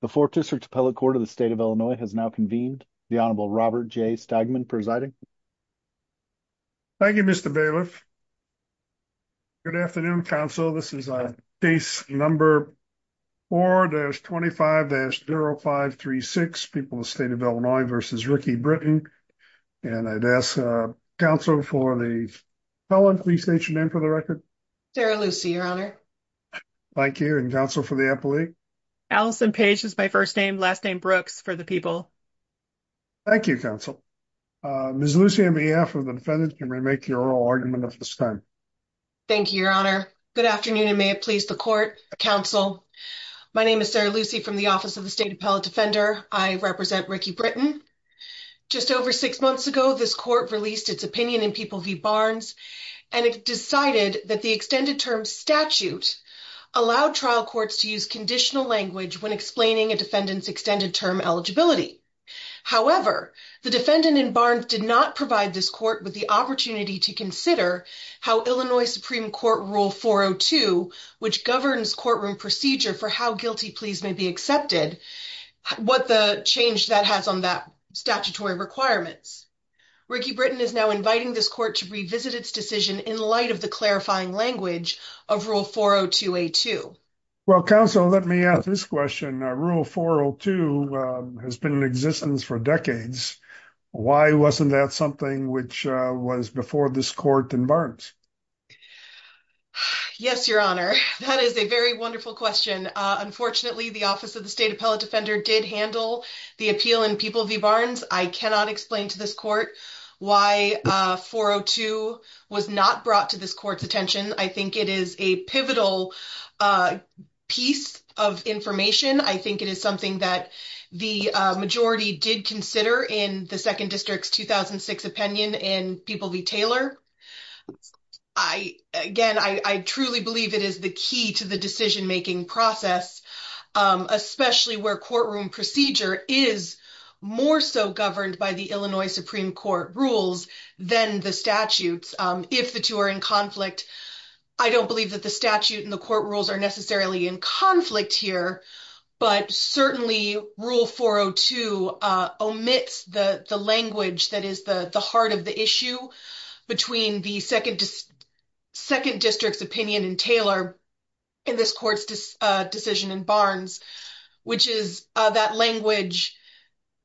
The Fourth District Appellate Court of the State of Illinois has now convened. The Honorable Robert J. Stegman presiding. Thank you, Mr. Bailiff. Good afternoon, counsel. This is case number 4-25-0536, People of the State of Illinois versus Ricky Britton. And I'd ask counsel for the appellant, please state your name for the record. Sarah Lucy, your honor. Thank you, and counsel for the appellate. Allison Page is my first name, last name Brooks for the people. Thank you, counsel. Ms. Lucy, on behalf of the defendants, can we make your oral argument at this time? Thank you, your honor. Good afternoon, and may it please the court, counsel. My name is Sarah Lucy from the Office of the State Appellate Defender. I represent Ricky Britton. Just over six months ago, this court released its opinion in People v. Barnes, and it decided that the extended term statute allowed trial courts to use conditional language when explaining a defendant's extended term eligibility. However, the defendant in Barnes did not provide this court with the opportunity to consider how Illinois Supreme Court Rule 402, which governs courtroom procedure for how guilty pleas may be accepted, what the change that has on that statutory requirements. Ricky Britton is now inviting this court to revisit its decision in light of the clarifying language of Rule 402A2. Well, counsel, let me ask this question. Rule 402 has been in existence for decades. Why wasn't that something which was before this court in Barnes? Yes, your honor, that is a very wonderful question. Unfortunately, the Office of the State Appellate Defender did handle the appeal in People v. Barnes. I cannot explain to this court why 402 was not brought to this court's attention. I think it is a pivotal piece of information. I think it is something that the majority did consider in the Second District's 2006 opinion in People v. Taylor. I, again, I truly believe it is the key to the decision-making process, especially where courtroom procedure is more so governed by the Illinois Supreme Court rules than the statutes. If the two are in conflict, I don't believe that the statute and the court rules are necessarily in conflict here, but certainly Rule 402 omits the language that is the heart of the issue between the Second District's opinion in Taylor in this court's decision in Barnes, which is that language,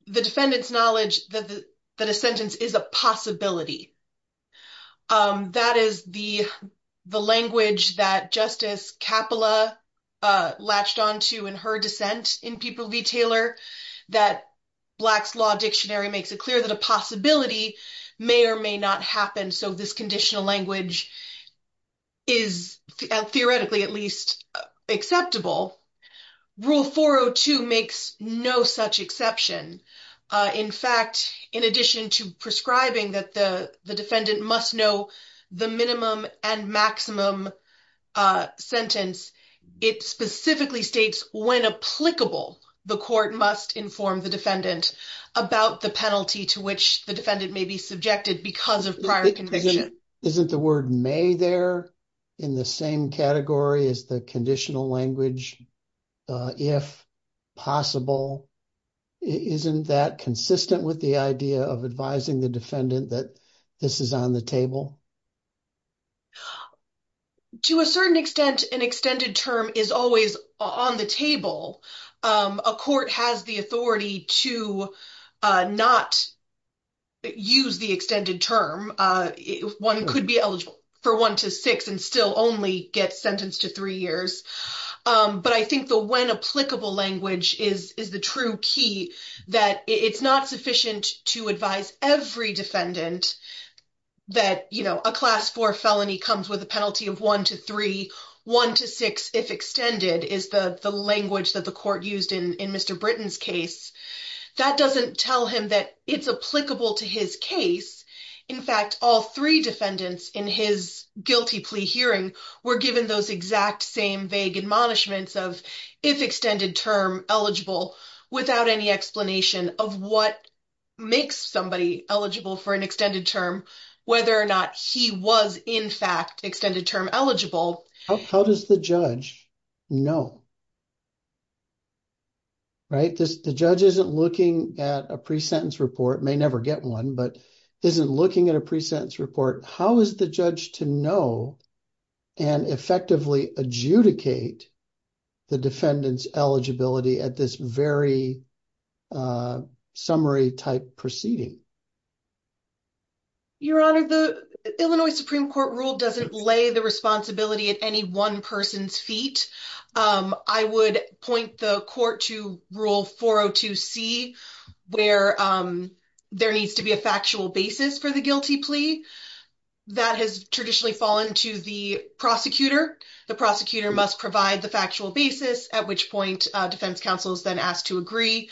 the defendant's knowledge that a sentence is a possibility. That is the language that Justice Kapila latched onto in her dissent in People v. Taylor that Black's Law Dictionary makes it clear that a possibility may or may not happen. So this conditional language is, theoretically at least, acceptable. Rule 402 makes no such exception. In fact, in addition to prescribing that the defendant must know the minimum and maximum sentence, it specifically states when applicable, the court must inform the defendant about the penalty to which the defendant may be subjected because of prior conviction. Isn't the word may there in the same category as the conditional language, if possible? Isn't that consistent with the idea of advising the defendant that this is on the table? To a certain extent, an extended term is always on the table. A court has the authority to not use the extended term. One could be eligible for one to six and still only get sentenced to three years. But I think the when applicable language is the true key that it's not sufficient to advise every defendant that a class four felony comes with a penalty of one to three, one to six if extended is the language that the court used in Mr. Britton's case. That doesn't tell him that it's applicable to his case. In fact, all three defendants in his guilty plea hearing were given those exact same vague admonishments of if extended term eligible without any explanation of what makes somebody eligible for an extended term, whether or not he was in fact extended term eligible. How does the judge know, right? The judge isn't looking at a pre-sentence report, may never get one, but isn't looking at a pre-sentence report. How is the judge to know and effectively adjudicate the defendant's eligibility at this very summary type proceeding? Your Honor, the Illinois Supreme Court rule doesn't lay the responsibility at any one person's feet. I would point the court to rule 402C where there needs to be a factual basis for the guilty plea that has traditionally fallen to the prosecutor. The prosecutor must provide the factual basis at which point defense counsel is then asked to agree.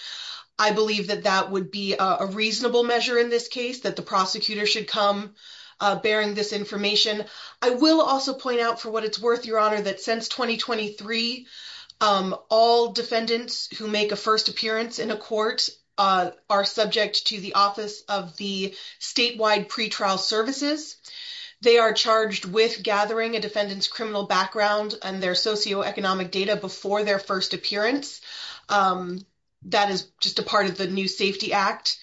I believe that that would be a reasonable measure in this case, that the prosecutor should come bearing this information. I will also point out for what it's worth, Your Honor, that since 2023, all defendants who make a first appearance in a court are subject to the office of the statewide pretrial services. They are charged with gathering a defendant's criminal background and their socioeconomic data before their first appearance. That is just a part of the new Safety Act.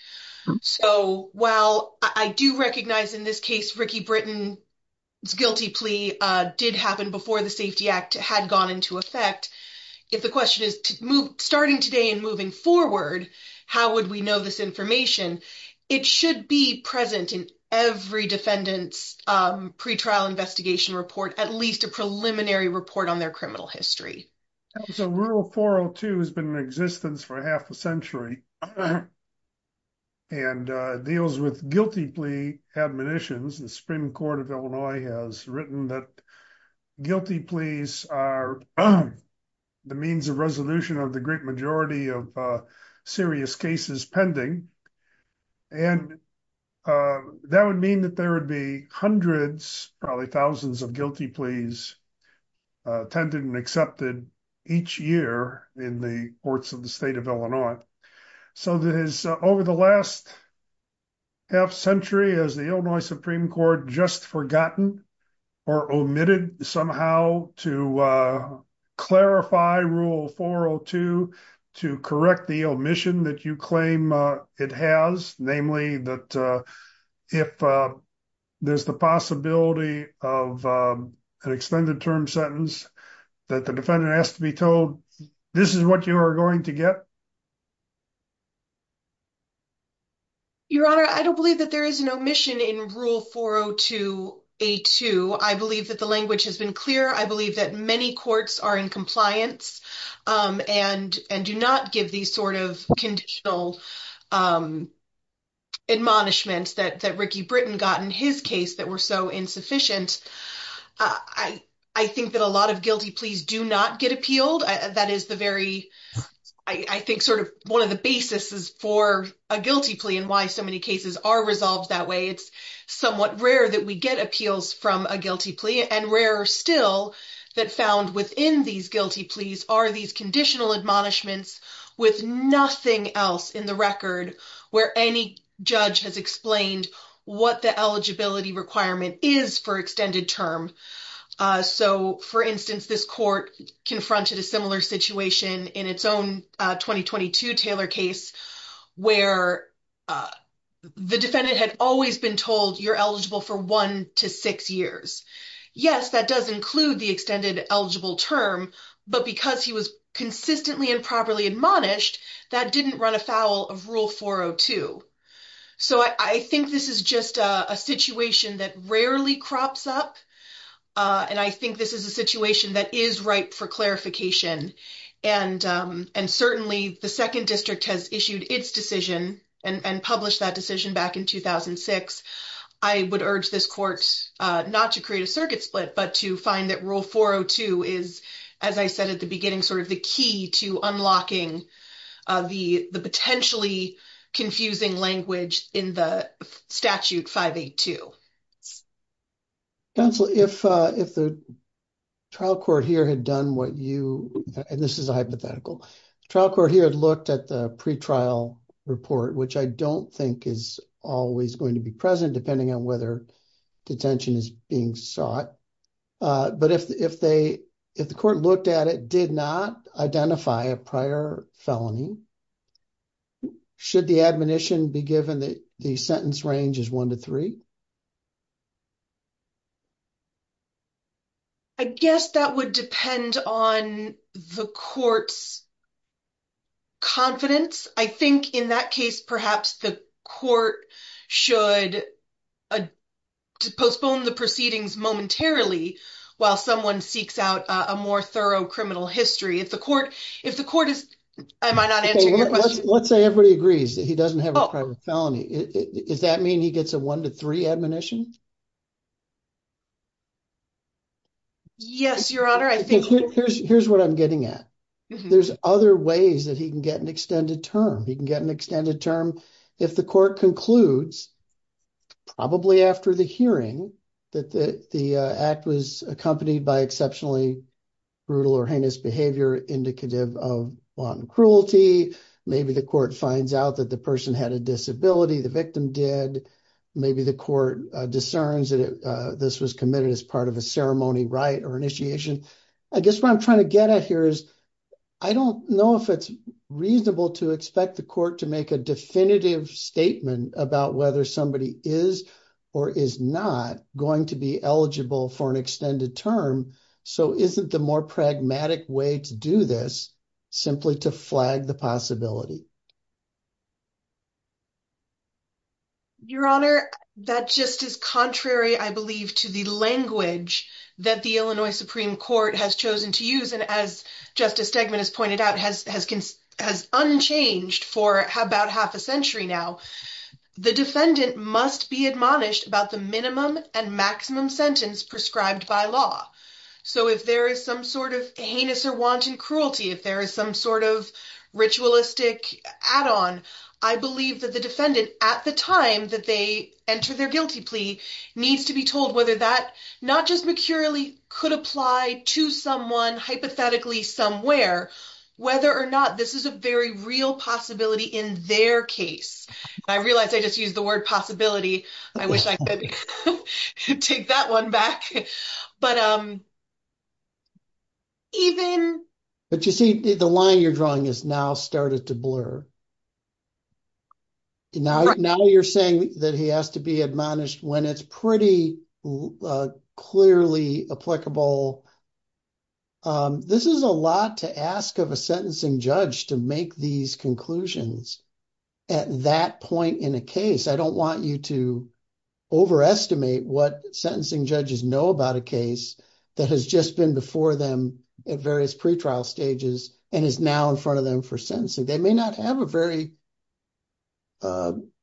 So while I do recognize in this case, Ricky Britton's guilty plea did happen before the Safety Act had gone into effect. If the question is starting today and moving forward, how would we know this information? It should be present in every defendant's pretrial investigation report, at least a preliminary report on their criminal history. So rule 402 has been in existence for half a century and deals with guilty plea admonitions. The Supreme Court of Illinois has written that guilty pleas are the means of resolution of the great majority of serious cases pending. And that would mean that there would be hundreds, probably thousands of guilty pleas tended and accepted each year in the courts of the state of Illinois. So that is over the last half century as the Illinois Supreme Court just forgotten or omitted somehow to clarify rule 402 to correct the omission that you claim it has, namely that if there's the possibility of an extended term sentence that the defendant has to be told, this is what you are going to get? Your Honor, I don't believe that there is an omission in rule 402A2. I believe that the language has been clear. I believe that many courts are in compliance and do not give these sort of conditional admonishments that Ricky Britton got in his case that were so insufficient. I think that a lot of guilty pleas do not get appealed. That is the very, I think sort of one of the basis is for a guilty plea and why so many cases are resolved that way. It's somewhat rare that we get appeals from a guilty plea and rarer still that found within these guilty pleas are these conditional admonishments with nothing else in the record where any judge has explained what the eligibility requirement is for extended term. So for instance, this court confronted a similar situation in its own 2022 Taylor case where the defendant had always been told you're eligible for one to six years. Yes, that does include the extended eligible term, but because he was consistently and properly admonished, that didn't run afoul of rule 402. So I think this is just a situation that rarely crops up. And I think this is a situation that is ripe for clarification. And certainly the second district has issued its decision and published that decision back in 2006. I would urge this court not to create a circuit split, but to find that rule 402 is, as I said at the beginning, sort of the key to unlocking the potentially confusing language in the statute 582. Council, if the trial court here had done what you, and this is a hypothetical, trial court here had looked at the pretrial report, which I don't think is always going to be present depending on whether detention is being sought. But if the court looked at it, did not identify a prior felony, should the admonition be given that the sentence range is one to three? I guess that would depend on the court's confidence. I think in that case, perhaps the court should postpone the proceedings momentarily while someone seeks out a more thorough criminal history. If the court is, am I not answering your question? Let's say everybody agrees that he doesn't have a private felony. Does that mean he gets a one to three admonition? Yes, your honor, I think- Here's what I'm getting at. There's other ways that he can get an extended term. He can get an extended term. If the court concludes probably after the hearing that the act was accompanied by exceptionally brutal or heinous behavior indicative of one cruelty, maybe the court finds out that the person had a disability, the victim did. Maybe the court discerns that this was committed as part of a ceremony right or initiation. I guess what I'm trying to get at here is I don't know if it's reasonable to expect the court to make a definitive statement about whether somebody is or is not going to be eligible for an extended term. So isn't the more pragmatic way to do this simply to flag the possibility? Your honor, that just is contrary, I believe, to the language that the Illinois Supreme Court has chosen to use. And as Justice Stegman has pointed out, has unchanged for about half a century now. The defendant must be admonished about the minimum and maximum sentence prescribed by law. So if there is some sort of heinous or wanton cruelty, if there is some sort of ritualistic add-on, I believe that the defendant at the time that they enter their guilty plea needs to be told whether that not just mercurially could apply to someone hypothetically somewhere, whether or not this is a very real possibility in their case. I realized I just used the word possibility. I wish I could take that one back. But even... But you see, the line you're drawing has now started to blur. Now you're saying that he has to be admonished when it's pretty clearly applicable. This is a lot to ask of a sentencing judge to make these conclusions at that point in a case. I don't want you to overestimate what sentencing judges know about a case that has just been before them at various pretrial stages and is now in front of them for sentencing. They may not have a very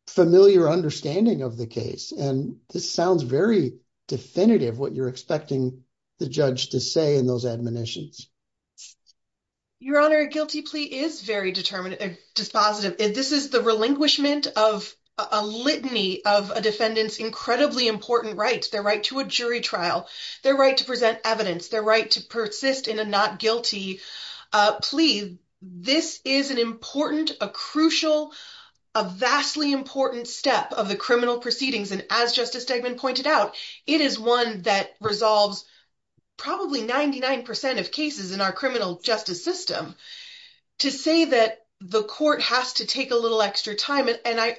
familiar understanding of the case. And this sounds very definitive, what you're expecting the judge to say in those admonitions. Your Honor, a guilty plea is very dispositive. This is the relinquishment of a litany of a defendant's incredibly important rights. Their right to a jury trial, their right to present evidence, their right to persist in a not guilty plea. This is an important, a crucial, a vastly important step of the criminal proceedings. And as Justice Stegman pointed out, it is one that resolves probably 99% of cases in our criminal justice system. To say that the court has to take a little extra time, and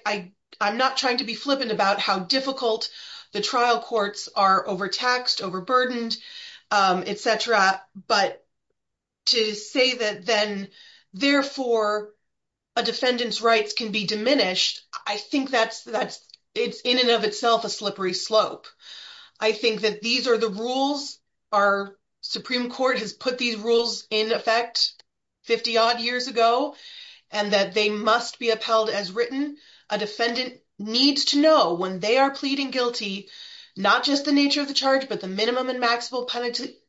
I'm not trying to be flippant about how difficult the trial courts are, overtaxed, overburdened, et cetera. But to say that then, therefore a defendant's rights can be diminished, I think it's in and of itself a slippery slope. I think that these are the rules, our Supreme Court has put these rules in effect 50 odd years ago, and that they must be upheld as written. A defendant needs to know when they are pleading guilty, not just the nature of the charge, but the minimum and maximum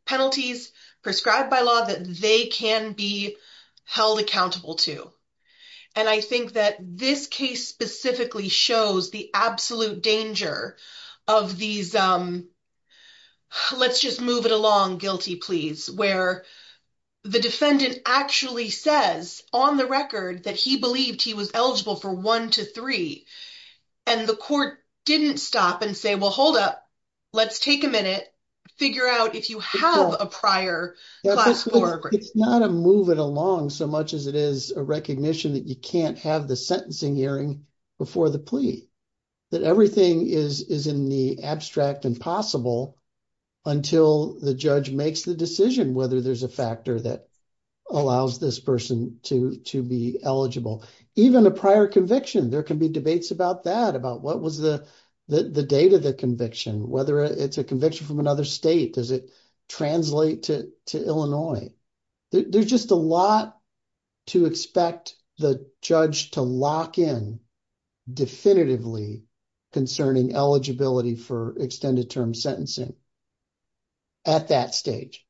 penalties prescribed by law that they can be held accountable to. And I think that this case specifically shows the absolute danger of these, let's just move it along guilty pleas, where the defendant actually says on the record that he believed he was eligible for one to three, and the court didn't stop and say, well, hold up, let's take a minute, figure out if you have a prior class four. It's not a move it along so much as it is a recognition that you can't have the sentencing hearing before the plea. That everything is in the abstract and possible until the judge makes the decision whether there's a factor that allows this person to be eligible. Even a prior conviction, there can be debates about that, about what was the date of the conviction, whether it's a conviction from another state, does it translate to Illinois? There's just a lot to expect the judge to lock in definitively concerning eligibility for extended term sentencing at that stage.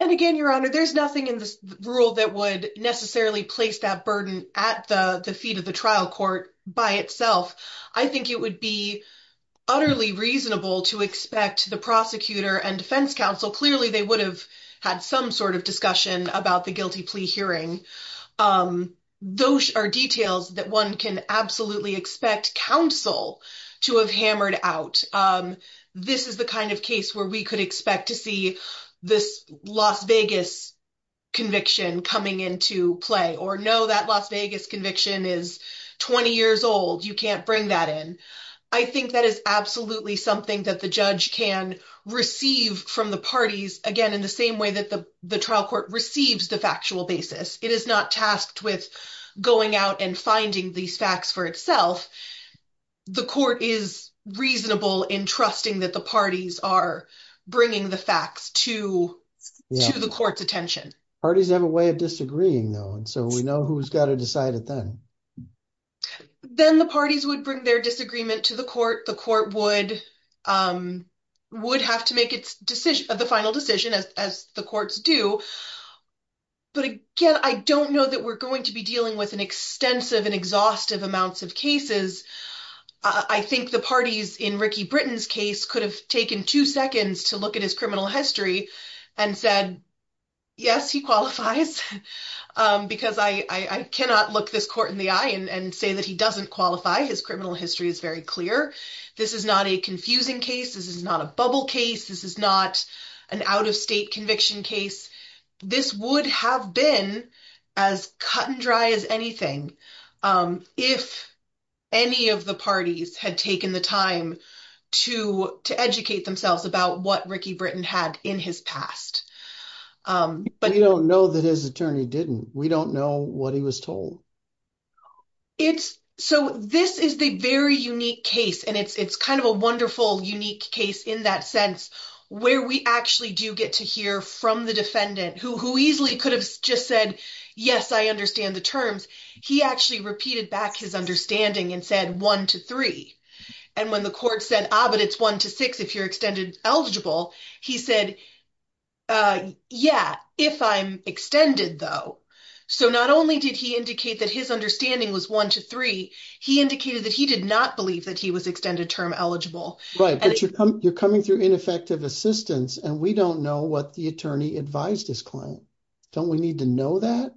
And again, Your Honor, there's nothing in this rule that would necessarily place that burden at the feet of the trial court by itself. I think it would be utterly reasonable to expect the prosecutor and defense counsel, clearly they would have had some sort of discussion about the guilty plea hearing. Those are details that one can absolutely expect counsel to have hammered out. This is the kind of case where we could expect to see this Las Vegas conviction coming into play or know that Las Vegas conviction is 20 years old, you can't bring that in. I think that is absolutely something that the judge can receive from the parties, again, in the same way that the trial court receives the factual basis. It is not tasked with going out and finding these facts for itself. The court is reasonable in trusting that the parties are bringing the facts to the court's attention. Parties have a way of disagreeing though. And so we know who's got to decide it then. Then the parties would bring their disagreement to the court. The court would have to make the final decision as the courts do. But again, I don't know that we're going to be dealing with an extensive and exhaustive amounts of cases. I think the parties in Ricky Britton's case could have taken two seconds to look at his criminal history and said, yes, he qualifies. Because I cannot look this court in the eye and say that he doesn't qualify. His criminal history is very clear. This is not a confusing case. This is not a bubble case. This is not an out of state conviction case. This would have been as cut and dry as anything if any of the parties had taken the time to educate themselves about what Ricky Britton had in his past. But you don't know that his attorney didn't. We don't know what he was told. So this is the very unique case. And it's kind of a wonderful unique case in that sense where we actually do get to hear from the defendant who easily could have just said, yes, I understand the terms. He actually repeated back his understanding and said one to three. And when the court said, ah, but it's one to six if you're extended eligible, he said, yeah, if I'm extended though. So not only did he indicate that his understanding was one to three, he indicated that he did not believe that he was extended term eligible. Right, but you're coming through ineffective assistance and we don't know what the attorney advised his client. Don't we need to know that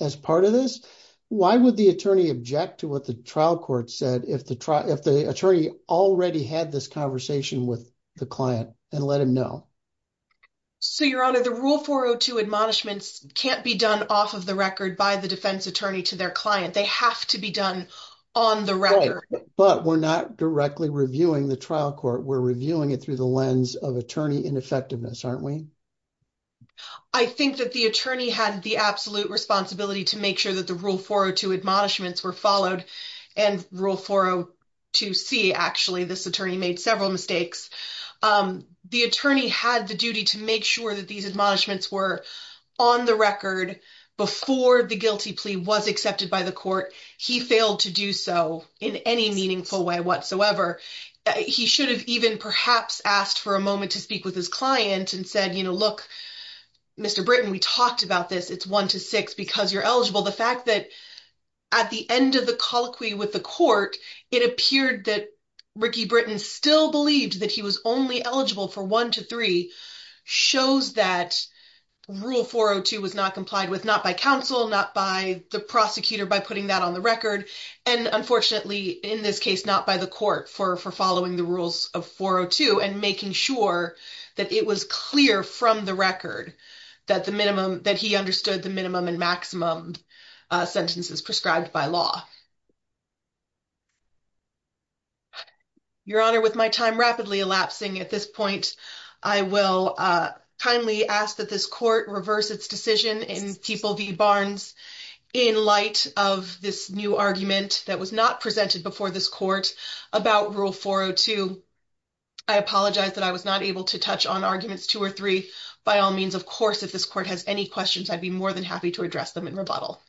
as part of this? Why would the attorney object to what the trial court said if the attorney already had this conversation with the client and let him know? So Your Honor, the Rule 402 admonishments can't be done off of the record by the defense attorney to their client. They have to be done on the record. But we're not directly reviewing the trial court. We're reviewing it through the lens of attorney ineffectiveness, aren't we? I think that the attorney had the absolute responsibility to make sure that the Rule 402 admonishments were followed and Rule 402C, actually, this attorney made several mistakes. The attorney had the duty to make sure that these admonishments were on the record before the guilty plea was accepted by the court. He failed to do so in any meaningful way whatsoever. He should have even perhaps asked for a moment to speak with his client and said, look, Mr. Britton, we talked about this. It's one to six because you're eligible. The fact that at the end of the colloquy with the court, it appeared that Ricky Britton still believed that he was only eligible for one to three shows that Rule 402 was not complied with, not by counsel, not by the prosecutor, by putting that on the record. And unfortunately, in this case, not by the court for following the rules of 402 and making sure that it was clear from the record that the minimum, that he understood the minimum and maximum sentences prescribed by law. Your Honor, with my time rapidly elapsing at this point, I will kindly ask that this court reverse its decision in People v. Barnes in light of this new argument that was not presented before this court about Rule 402. I apologize that I was not able to touch on arguments two or three. By all means, of course, if this court has any questions, I'd be more than happy to address them in rebuttal.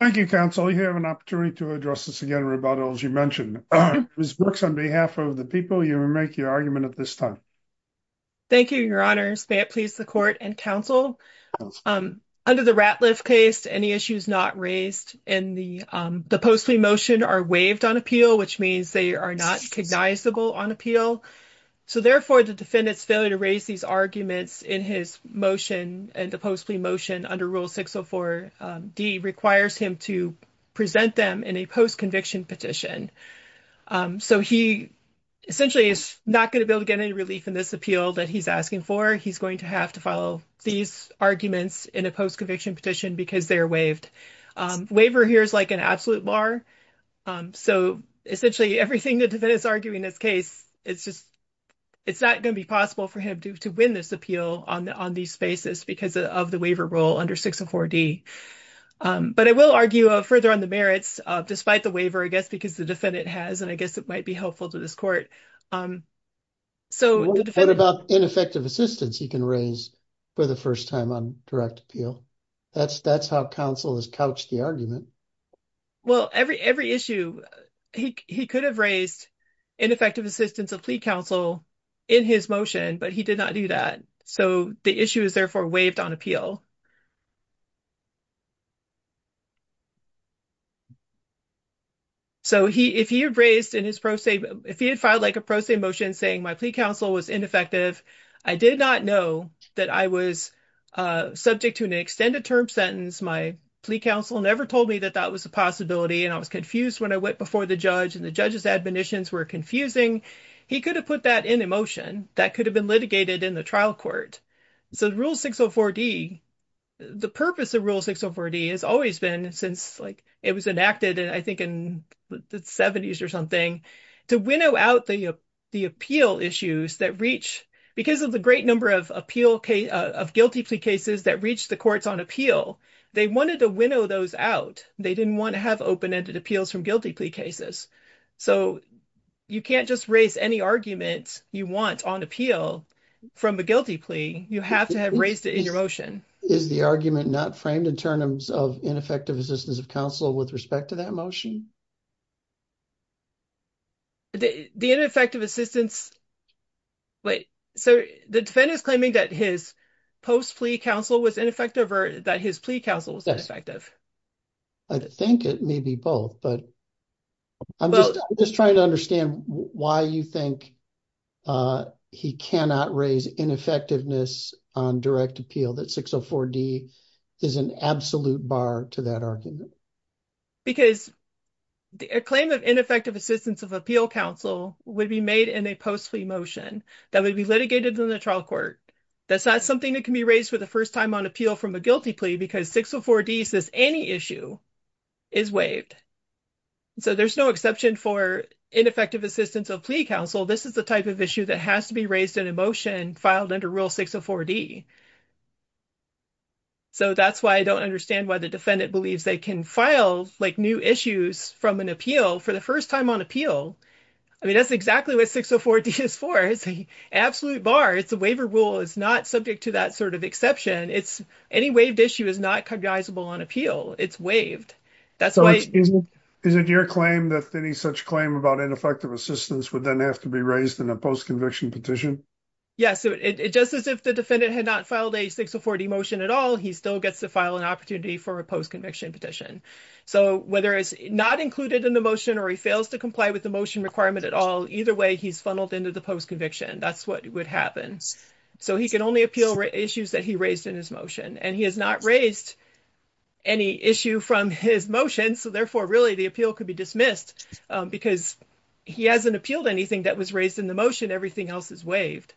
Thank you, counsel. You have an opportunity to address this again in rebuttal as you mentioned. Ms. Brooks, on behalf of the people, you will make your argument at this time. Thank you, Your Honors. May it please the court and counsel. Under the Ratliff case, any issues not raised in the post-plea motion are waived on appeal, which means they are not recognizable on appeal. So therefore, the defendant's failure to raise these arguments in his motion and the post-plea motion under Rule 604D requires him to present them in a post-conviction petition. So he essentially is not gonna be able to get any relief in this appeal that he's asking for. He's going to have to follow these arguments in a post-conviction petition because they are waived. Waiver here is like an absolute bar. So essentially, everything the defendant's arguing in this case, it's just, it's not gonna be possible for him to win this appeal on these spaces because of the waiver rule under 604D. But I will argue further on the merits, despite the waiver, I guess, because the defendant has, and I guess it might be helpful to this court. So the defendant- Ineffective assistance he can raise for the first time on direct appeal. That's how counsel has couched the argument. Well, every issue, he could have raised ineffective assistance of plea counsel in his motion, but he did not do that. So the issue is therefore waived on appeal. So if he had raised in his pro se, if he had filed like a pro se motion saying my plea counsel was ineffective, I did not know that I was subject to an extended term sentence. My plea counsel never told me that that was a possibility and I was confused when I went before the judge and the judge's admonitions were confusing. He could have put that in a motion that could have been litigated in the trial court. So the rule 604D, the purpose of rule 604D has always been since like it was enacted and I think in the seventies or something, to winnow out the appeal issues that reach, because of the great number of guilty plea cases that reached the courts on appeal, they wanted to winnow those out. They didn't want to have open-ended appeals from guilty plea cases. So you can't just raise any arguments you want on appeal from a guilty plea. You have to have raised it in your motion. Is the argument not framed in terms of ineffective assistance of counsel with respect to that motion? The ineffective assistance, so the defendant is claiming that his post plea counsel was ineffective or that his plea counsel was ineffective. I think it may be both, but I'm just trying to understand why you think he cannot raise ineffectiveness on direct appeal that 604D is an absolute bar to that argument. Because a claim of ineffective assistance of appeal counsel would be made in a post plea motion that would be litigated in the trial court. That's not something that can be raised for the first time on appeal from a guilty plea because 604D says any issue is waived. So there's no exception for ineffective assistance of plea counsel. This is the type of issue that has to be raised in a motion filed under rule 604D. So that's why I don't understand why the defendant believes they can file like new issues from an appeal for the first time on appeal. I mean, that's exactly what 604D is for. It's an absolute bar. It's a waiver rule. It's not subject to that sort of exception. Any waived issue is not cognizable on appeal. It's waived. That's why- Is it your claim that any such claim about ineffective assistance would then have to be raised in a post conviction petition? Yes, it just as if the defendant had not filed a 604D motion at all, he still gets to file an opportunity for a post conviction petition. So whether it's not included in the motion or he fails to comply with the motion requirement at all, either way he's funneled into the post conviction. That's what would happen. So he can only appeal issues that he raised in his motion and he has not raised any issue from his motion. So therefore really the appeal could be dismissed because he hasn't appealed anything that was raised in the motion. Everything else is waived.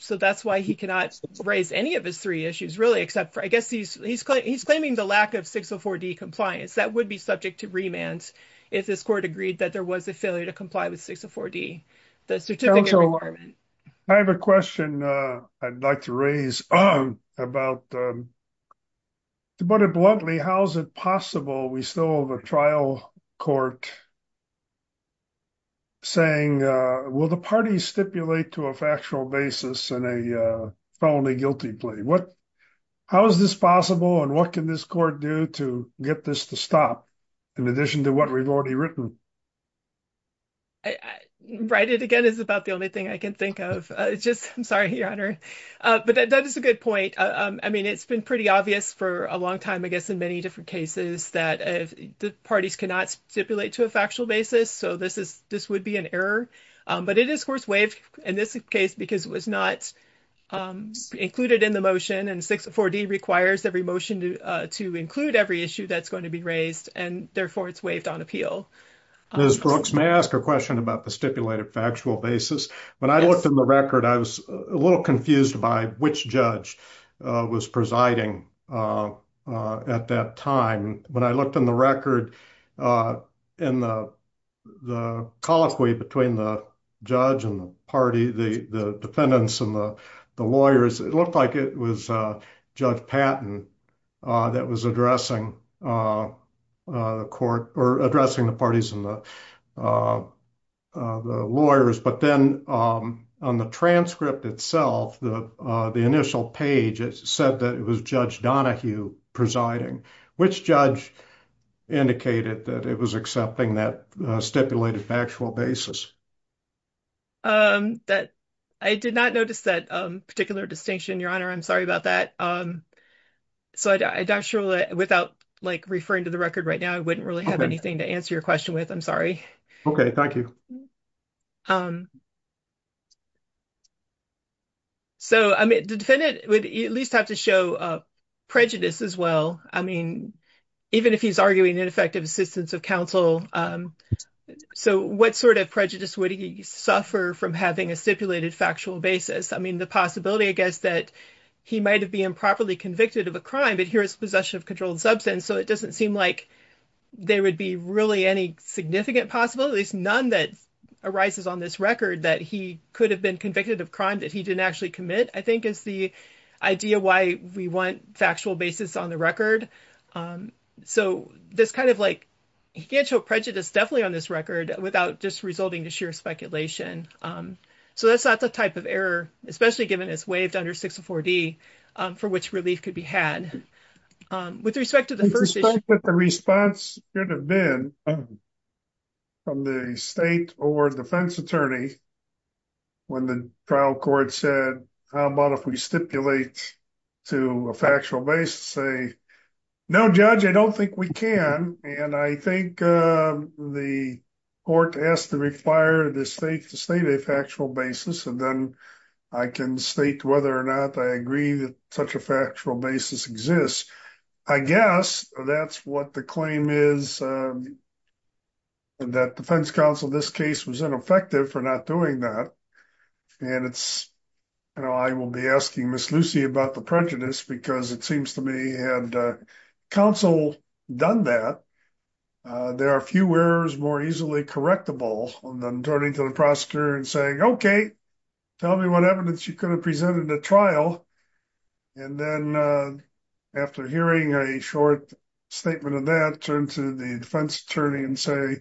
So that's why he cannot raise any of his three issues really except for, I guess he's claiming the lack of 604D compliance. That would be subject to remands if this court agreed that there was a failure to comply with 604D, the certificate requirement. I have a question I'd like to raise about, to put it bluntly, how's it possible we still have a trial court saying, will the parties stipulate to a factual basis in a felony guilty plea? How is this possible? And what can this court do to get this to stop in addition to what we've already written? Right, it again is about the only thing I can think of. Just, I'm sorry, Your Honor. But that is a good point. I mean, it's been pretty obvious for a long time, I guess in many different cases that the parties cannot stipulate to a factual basis. So this would be an error, but it is of course waived in this case because it was not included in the motion and 604D requires every motion to include every issue that's going to be raised and therefore it's waived on appeal. Ms. Brooks, may I ask a question about the stipulated factual basis? When I looked in the record, I was a little confused by which judge was presiding at that time. When I looked in the record and the colloquy between the judge and the party, the defendants and the lawyers, it looked like it was Judge Patton that was addressing the court or addressing the parties and the lawyers. But then on the transcript itself, the initial page, it said that it was Judge Donohue presiding. Which judge indicated that it was accepting that stipulated factual basis? I did not notice that particular distinction, Your Honor, I'm sorry about that. So I'm not sure that without like referring to the record right now, I wouldn't really have anything to answer your question with, I'm sorry. Okay, thank you. So I mean, the defendant would at least have to show prejudice as well. I mean, even if he's arguing ineffective assistance of counsel, so what sort of prejudice would he suffer from having a stipulated factual basis? I mean, the possibility, I guess, that he might've been improperly convicted of a crime, but here it's possession of controlled substance. So it doesn't seem like there would be really any significant possibilities, none that arises on this record that he could have been convicted of crime that he didn't actually commit, I think is the idea why we want factual basis on the record. So this kind of like, he can't show prejudice definitely on this record without just resulting to sheer speculation. So that's not the type of error, especially given it's waived under 604D for which relief could be had. With respect to the first issue. The response could have been from the state or defense attorney when the trial court said, how about if we stipulate to a factual basis, say, no judge, I don't think we can. And I think the court has to require the state to state a factual basis. And then I can state whether or not I agree that such a factual basis exists. I guess that's what the claim is that defense counsel, this case was ineffective for not doing that. And it's, I will be asking Ms. Lucy about the prejudice because it seems to me had counsel done that, there are a few errors more easily correctable than turning to the prosecutor and saying, okay, tell me what evidence you could have presented at trial. And then after hearing a short statement of that, turn to the defense attorney and say,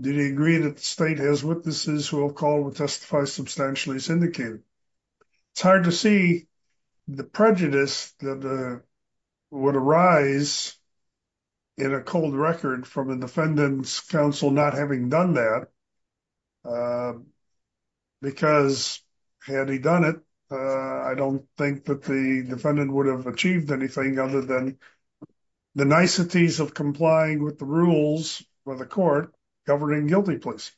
did he agree that the state has witnesses who have called to testify substantially as indicated? It's hard to see the prejudice that would arise in a cold record from a defendant's counsel not having done that because had he done it, I don't think that the defendant would have achieved anything other than the niceties of complying with the rules for the court governing guilty please.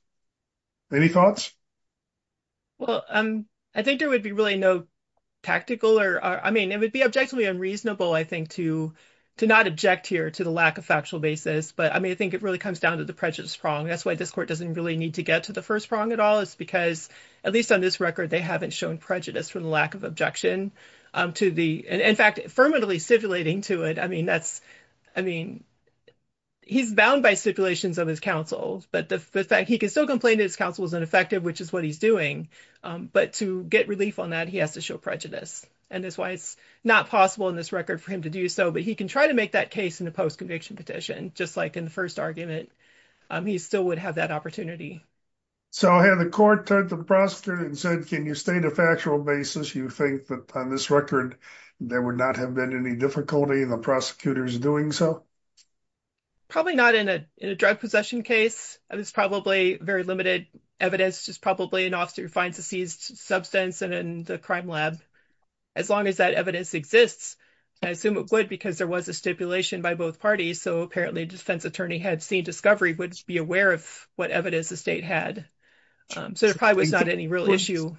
Any thoughts? Well, I think there would be really no tactical or, I mean, it would be objectively unreasonable, I think, to not object here to the lack of factual basis. But I mean, I think it really comes down to the prejudice prong. That's why this court doesn't really need to get to the first prong at all. It's because at least on this record, they haven't shown prejudice for the lack of objection to the, in fact, affirmatively stipulating to it. I mean, that's, I mean, he's bound by stipulations of his counsel, but the fact he can still complain that his counsel is ineffective, which is what he's doing, but to get relief on that, he has to show prejudice. And that's why it's not possible in this record for him to do so, but he can try to make that case in a post-conviction petition, just like in the first argument, he still would have that opportunity. So had the court turned to the prosecutor and said, can you state a factual basis? You think that on this record, there would not have been any difficulty in the prosecutors doing so? Probably not in a drug possession case. It's probably very limited evidence. It's probably an officer who finds a seized substance in the crime lab. As long as that evidence exists, I assume it would because there was a stipulation by both parties. So apparently a defense attorney had seen discovery, would be aware of what evidence the state had. So there probably was not any real issue.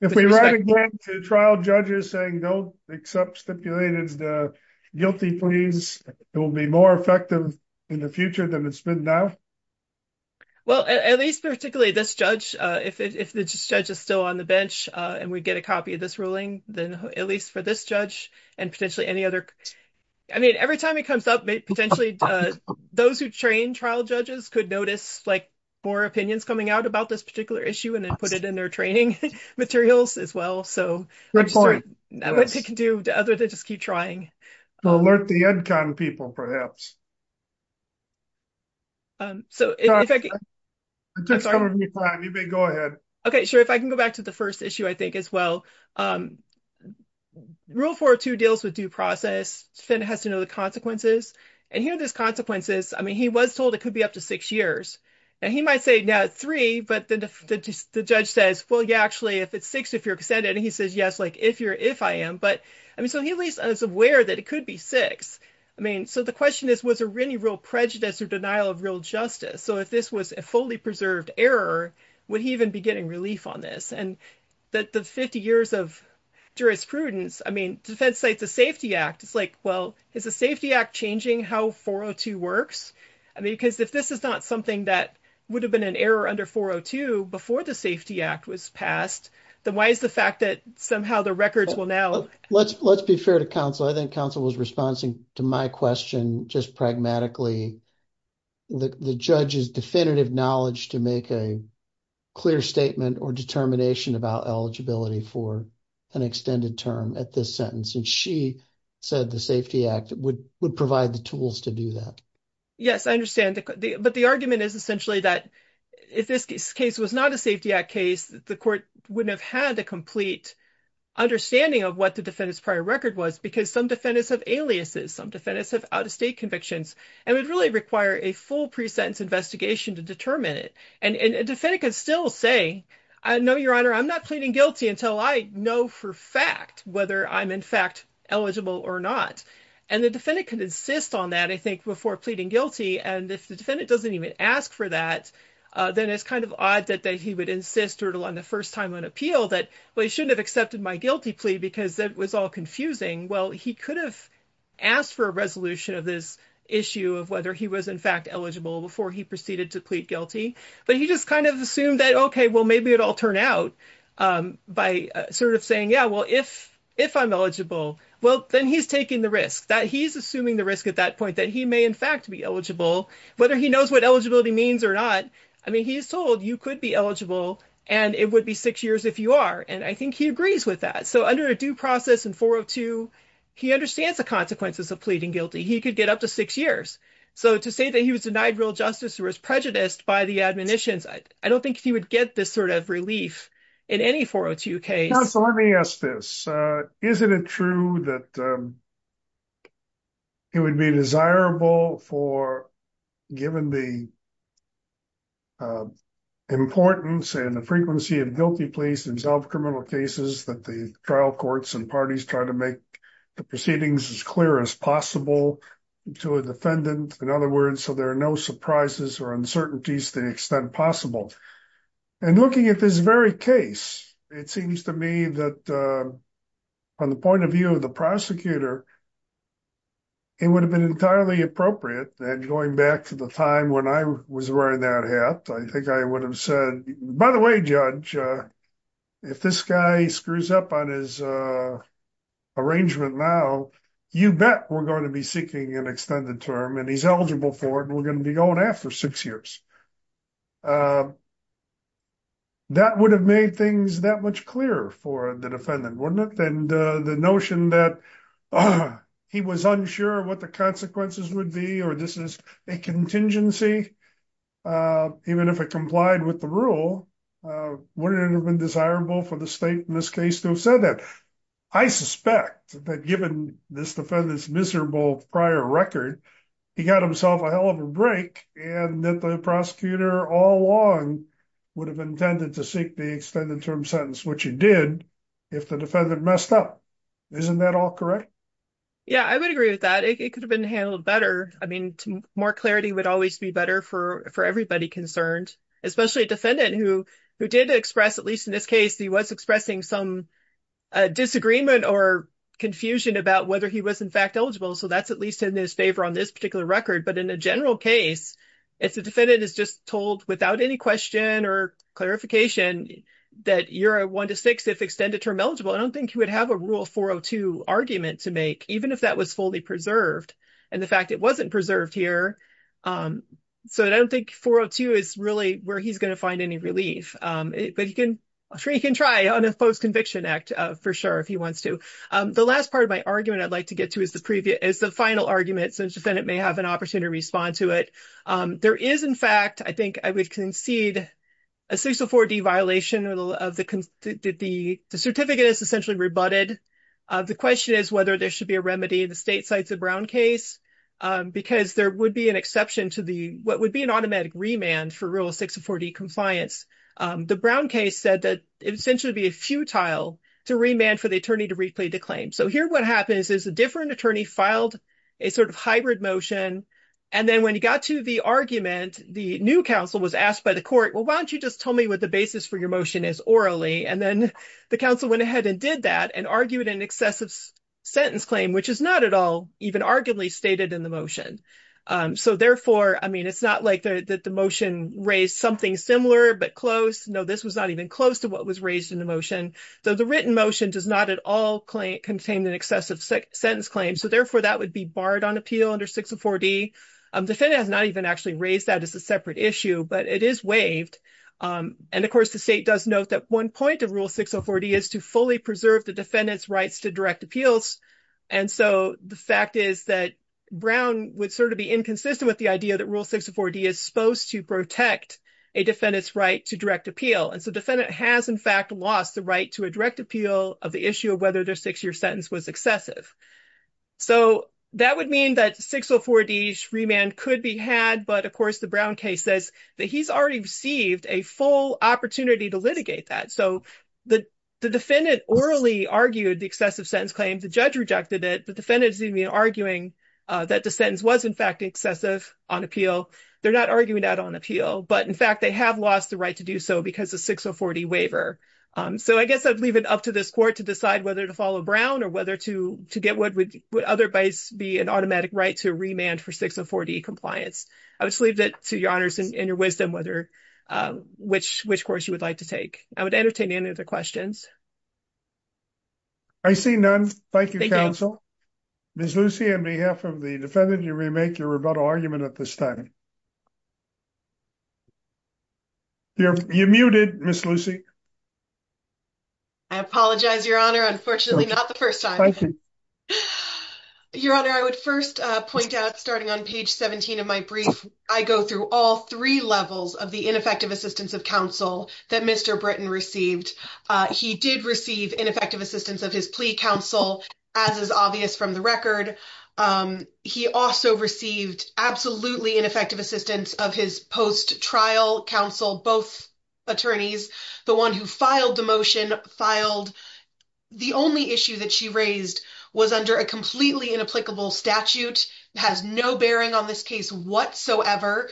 If we write a grant to trial judges saying, don't accept stipulated guilty pleas, it will be more effective in the future than it's been now. Well, at least particularly this judge, if this judge is still on the bench and we get a copy of this ruling, then at least for this judge and potentially any other, I mean, every time it comes up, potentially those who train trial judges could notice like more opinions coming out about this particular issue and then put it in their training materials as well. So I'm sorry, that's what they can do other than just keep trying. To alert the EdCon people, perhaps. So if I can- I'm sorry. You may go ahead. Okay, sure. If I can go back to the first issue, I think as well. Rule 402 deals with due process. Finn has to know the consequences. And here are those consequences. I mean, he was told it could be up to six years. And he might say, now it's three, but then the judge says, well, yeah, actually if it's six, if you're extended, and he says, yes, like if you're, if I am, but I mean, so he was aware that it could be six. I mean, so the question is, was there any real prejudice or denial of real justice? So if this was a fully preserved error, would he even be getting relief on this? And that the 50 years of jurisprudence, I mean, Defense Cites a Safety Act, it's like, well, is the Safety Act changing how 402 works? I mean, because if this is not something that would have been an error under 402 before the Safety Act was passed, then why is the fact that somehow the records will now- Let's be fair to counsel. I think counsel was responding to my question just pragmatically. The judge's definitive knowledge to make a clear statement or determination about eligibility for an extended term at this sentence. And she said the Safety Act would provide the tools to do that. Yes, I understand. But the argument is essentially that if this case was not a Safety Act case, the court wouldn't have had a complete understanding of what the defendant's prior record was because some defendants have aliases. Some defendants have out-of-state convictions and would really require a full pre-sentence investigation to determine it. And a defendant could still say, no, your honor, I'm not pleading guilty until I know for fact whether I'm in fact eligible or not. And the defendant could insist on that, I think, before pleading guilty. And if the defendant doesn't even ask for that, then it's kind of odd that he would insist or on the first time on appeal that, well, he shouldn't have accepted my guilty plea because it was all confusing. Well, he could have asked for a resolution of this issue of whether he was in fact eligible before he proceeded to plead guilty. But he just kind of assumed that, okay, well, maybe it'll turn out by sort of saying, yeah, well, if I'm eligible, well, then he's taking the risk that he's assuming the risk at that point that he may in fact be eligible, whether he knows what eligibility means or not. I mean, he is told you could be eligible and it would be six years if you are. And I think he agrees with that. So under a due process in 402, he understands the consequences of pleading guilty. He could get up to six years. So to say that he was denied real justice or was prejudiced by the admonitions, I don't think he would get this sort of relief in any 402 case. So let me ask this. Isn't it true that it would be desirable for given the importance and the frequency of guilty pleas in self-criminal cases that the trial courts and parties try to make the proceedings as clear as possible to a defendant? In other words, so there are no surprises or uncertainties to the extent possible. And looking at this very case, it seems to me that on the point of view of the prosecutor, it would have been entirely appropriate that going back to the time when I was wearing that hat, I think I would have said, by the way, judge, if this guy screws up on his arrangement now, you bet we're gonna be seeking an extended term and he's eligible for it and we're gonna be going after six years. That would have made things that much clearer for the defendant, wouldn't it? And the notion that he was unsure what the consequences would be, or this is a contingency, even if it complied with the rule, wouldn't it have been desirable for the state in this case to have said that? I suspect that given this defendant's miserable prior record he got himself a hell of a break and that the prosecutor all along would have intended to seek the extended term sentence, which he did if the defendant messed up. Isn't that all correct? Yeah, I would agree with that. It could have been handled better. I mean, more clarity would always be better for everybody concerned, especially a defendant who did express, at least in this case, he was expressing some disagreement or confusion about whether he was in fact eligible. So that's at least in his favor on this particular record. But in a general case, if the defendant is just told without any question or clarification that you're a one to six if extended term eligible, I don't think he would have a rule 402 argument to make, even if that was fully preserved and the fact it wasn't preserved here. So I don't think 402 is really where he's gonna find any relief, but he can try on a post conviction act for sure if he wants to. The last part of my argument I'd like to get to is the final argument since the defendant may have an opportunity to respond to it. There is in fact, I think I would concede a 604 D violation of the, the certificate is essentially rebutted. The question is whether there should be a remedy in the state sites of Brown case because there would be an exception to what would be an automatic remand for real 604 D compliance. The Brown case said that it essentially would be a futile to remand for the attorney to replay the claim. So here what happens is a different attorney filed a sort of hybrid motion. And then when he got to the argument, the new counsel was asked by the court, well, why don't you just tell me what the basis for your motion is orally? And then the counsel went ahead and did that and argued an excessive sentence claim, which is not at all even arguably stated in the motion. So therefore, I mean, it's not like that the motion raised something similar, but close. No, this was not even close to what was raised in the motion. So the written motion does not at all contain an excessive sentence claim. So therefore that would be barred on appeal under 604 D. Defendant has not even actually raised that as a separate issue, but it is waived. And of course the state does note that one point of rule 604 D is to fully preserve the defendant's rights to direct appeals. And so the fact is that Brown would sort of be inconsistent with the idea that rule 604 D is supposed to protect a defendant's right to direct appeal. And so defendant has in fact lost the right to a direct appeal of the issue of whether their six-year sentence was excessive. So that would mean that 604 D remand could be had, but of course the Brown case says that he's already received a full opportunity to litigate that. So the defendant orally argued the excessive sentence claim. The judge rejected it, but defendant is even arguing that the sentence was in fact excessive on appeal. They're not arguing that on appeal, but in fact they have lost the right to do so because of 604 D waiver. So I guess I'd leave it up to this court to decide whether to follow Brown or whether to get what would otherwise be an automatic right to remand for 604 D compliance. I would just leave it to your honors and your wisdom whether which course you would like to take. I would entertain any other questions. I see none. Thank you, counsel. Ms. Lucy, on behalf of the defendant, you may make your rebuttal argument at this time. You're muted, Ms. Lucy. I apologize, your honor. Unfortunately, not the first time. Your honor, I would first point out starting on page 17 of my brief, I go through all three levels of the ineffective assistance of counsel that Mr. Britton received. He did receive ineffective assistance of his plea counsel as is obvious from the record. He also received absolutely ineffective assistance of his post-trial counsel, both attorneys. The one who filed the motion filed, the only issue that she raised was under a completely inapplicable statute, has no bearing on this case whatsoever,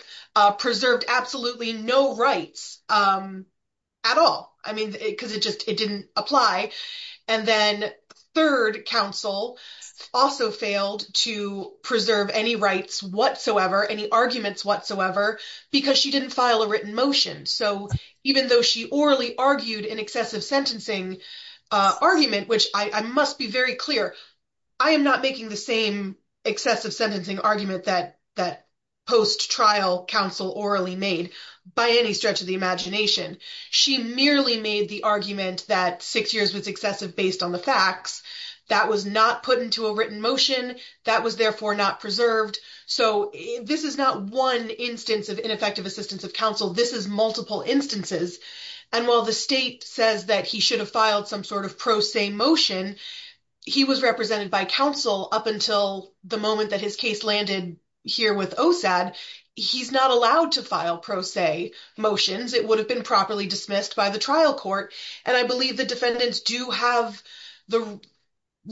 preserved absolutely no rights at all. Cause it just, it didn't apply. And then third counsel also failed to preserve any rights whatsoever, any arguments whatsoever because she didn't file a written motion. So even though she orally argued in excessive sentencing argument, which I must be very clear, I am not making the same excessive sentencing argument that post-trial counsel orally made by any stretch of the imagination. She merely made the argument that six years was excessive based on the facts that was not put into a written motion that was therefore not preserved. So this is not one instance of ineffective assistance of counsel. This is multiple instances. And while the state says that he should have filed some sort of pro se motion, he was represented by counsel up until the moment that his case landed here with OSAD. He's not allowed to file pro se motions. It would have been properly dismissed by the trial court. And I believe the defendants do have the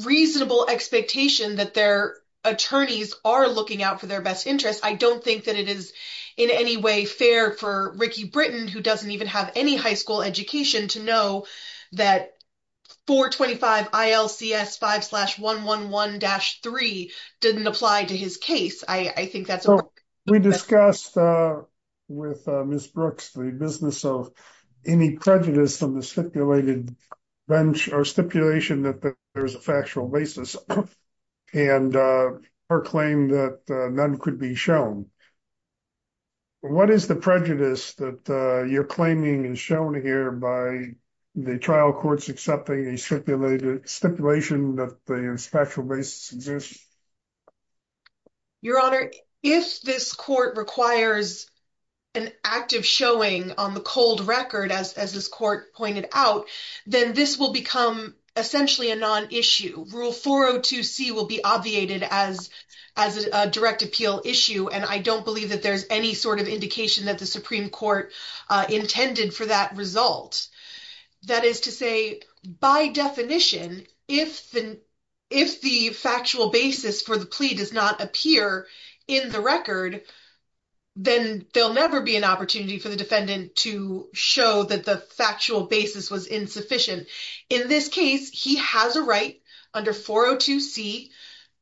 reasonable expectation that their attorneys are looking out for their best interests. I don't think that it is in any way fair for Ricky Britton, who doesn't even have any high school education to know that 425 ILCS 5 slash 111-3 didn't apply to his case. I think that's- We discussed with Ms. Brooks the business of any prejudice on the stipulated bench or stipulation that there's a factual basis and her claim that none could be shown. What is the prejudice that you're claiming is shown here by the trial courts accepting a stipulation that there's factual basis in this? Your Honor, if this court requires an active showing on the cold record, as this court pointed out, then this will become essentially a non-issue. Rule 402C will be obviated as a direct appeal issue. And I don't believe that there's any sort of indication that the Supreme Court intended for that result. That is to say, by definition, if the factual basis for the plea does not appear in the record, then there'll never be an opportunity for the defendant to show that the factual basis was insufficient. In this case, he has a right under 402C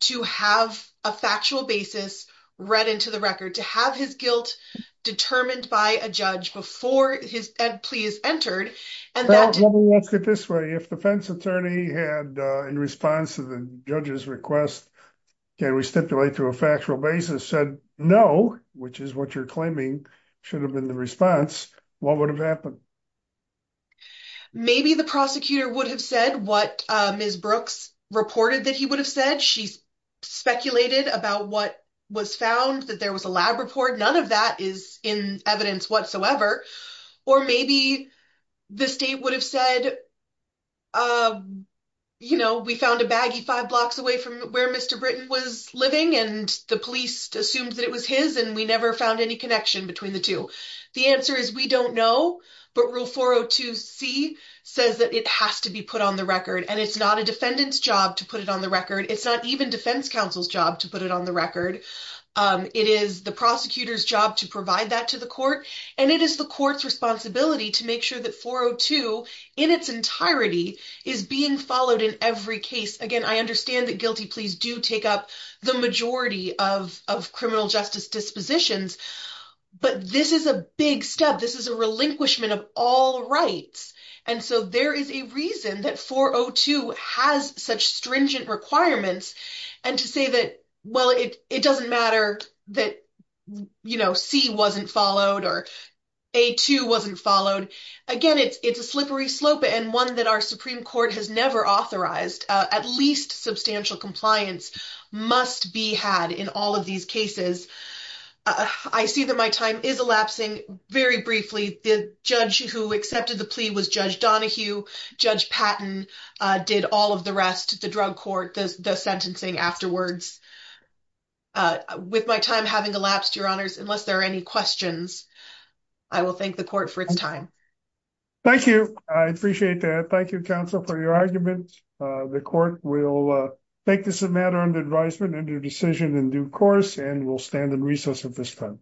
to have a factual basis read into the record, to have his guilt determined by a judge before his plea is entered. And that- Well, let me ask it this way. If the defense attorney had, in response to the judge's request, can we stipulate to a factual basis, said no, which is what you're claiming should have been the response, what would have happened? Maybe the prosecutor would have said what Ms. Brooks reported that he would have said. She speculated about what was found, that there was a lab report. None of that is in evidence whatsoever. Or maybe the state would have said, we found a baggie five blocks away from where Mr. Britton was living and the police assumed that it was his and we never found any connection between the two. The answer is we don't know, but rule 402C says that it has to be put on the record and it's not a defendant's job to put it on the record. It's not even defense counsel's job to put it on the record. It is the prosecutor's job to provide that to the court. And it is the court's responsibility to make sure that 402 in its entirety is being followed in every case. Again, I understand that guilty pleas do take up the majority of criminal justice dispositions, but this is a big step. This is a relinquishment of all rights. And so there is a reason that 402 has such stringent requirements. And to say that, well, it doesn't matter that C wasn't followed or A2 wasn't followed. Again, it's a slippery slope and one that our Supreme Court has never authorized. At least substantial compliance must be had in all of these cases. I see that my time is elapsing. Very briefly, the judge who accepted the plea was Judge Donohue. Judge Patton did all of the rest, the drug court, the sentencing afterwards. With my time having elapsed, Your Honors, unless there are any questions, I will thank the court for its time. Thank you. I appreciate that. Thank you, counsel, for your argument. The court will take this matter under advisement and a decision in due course, and we'll stand in recess at this time.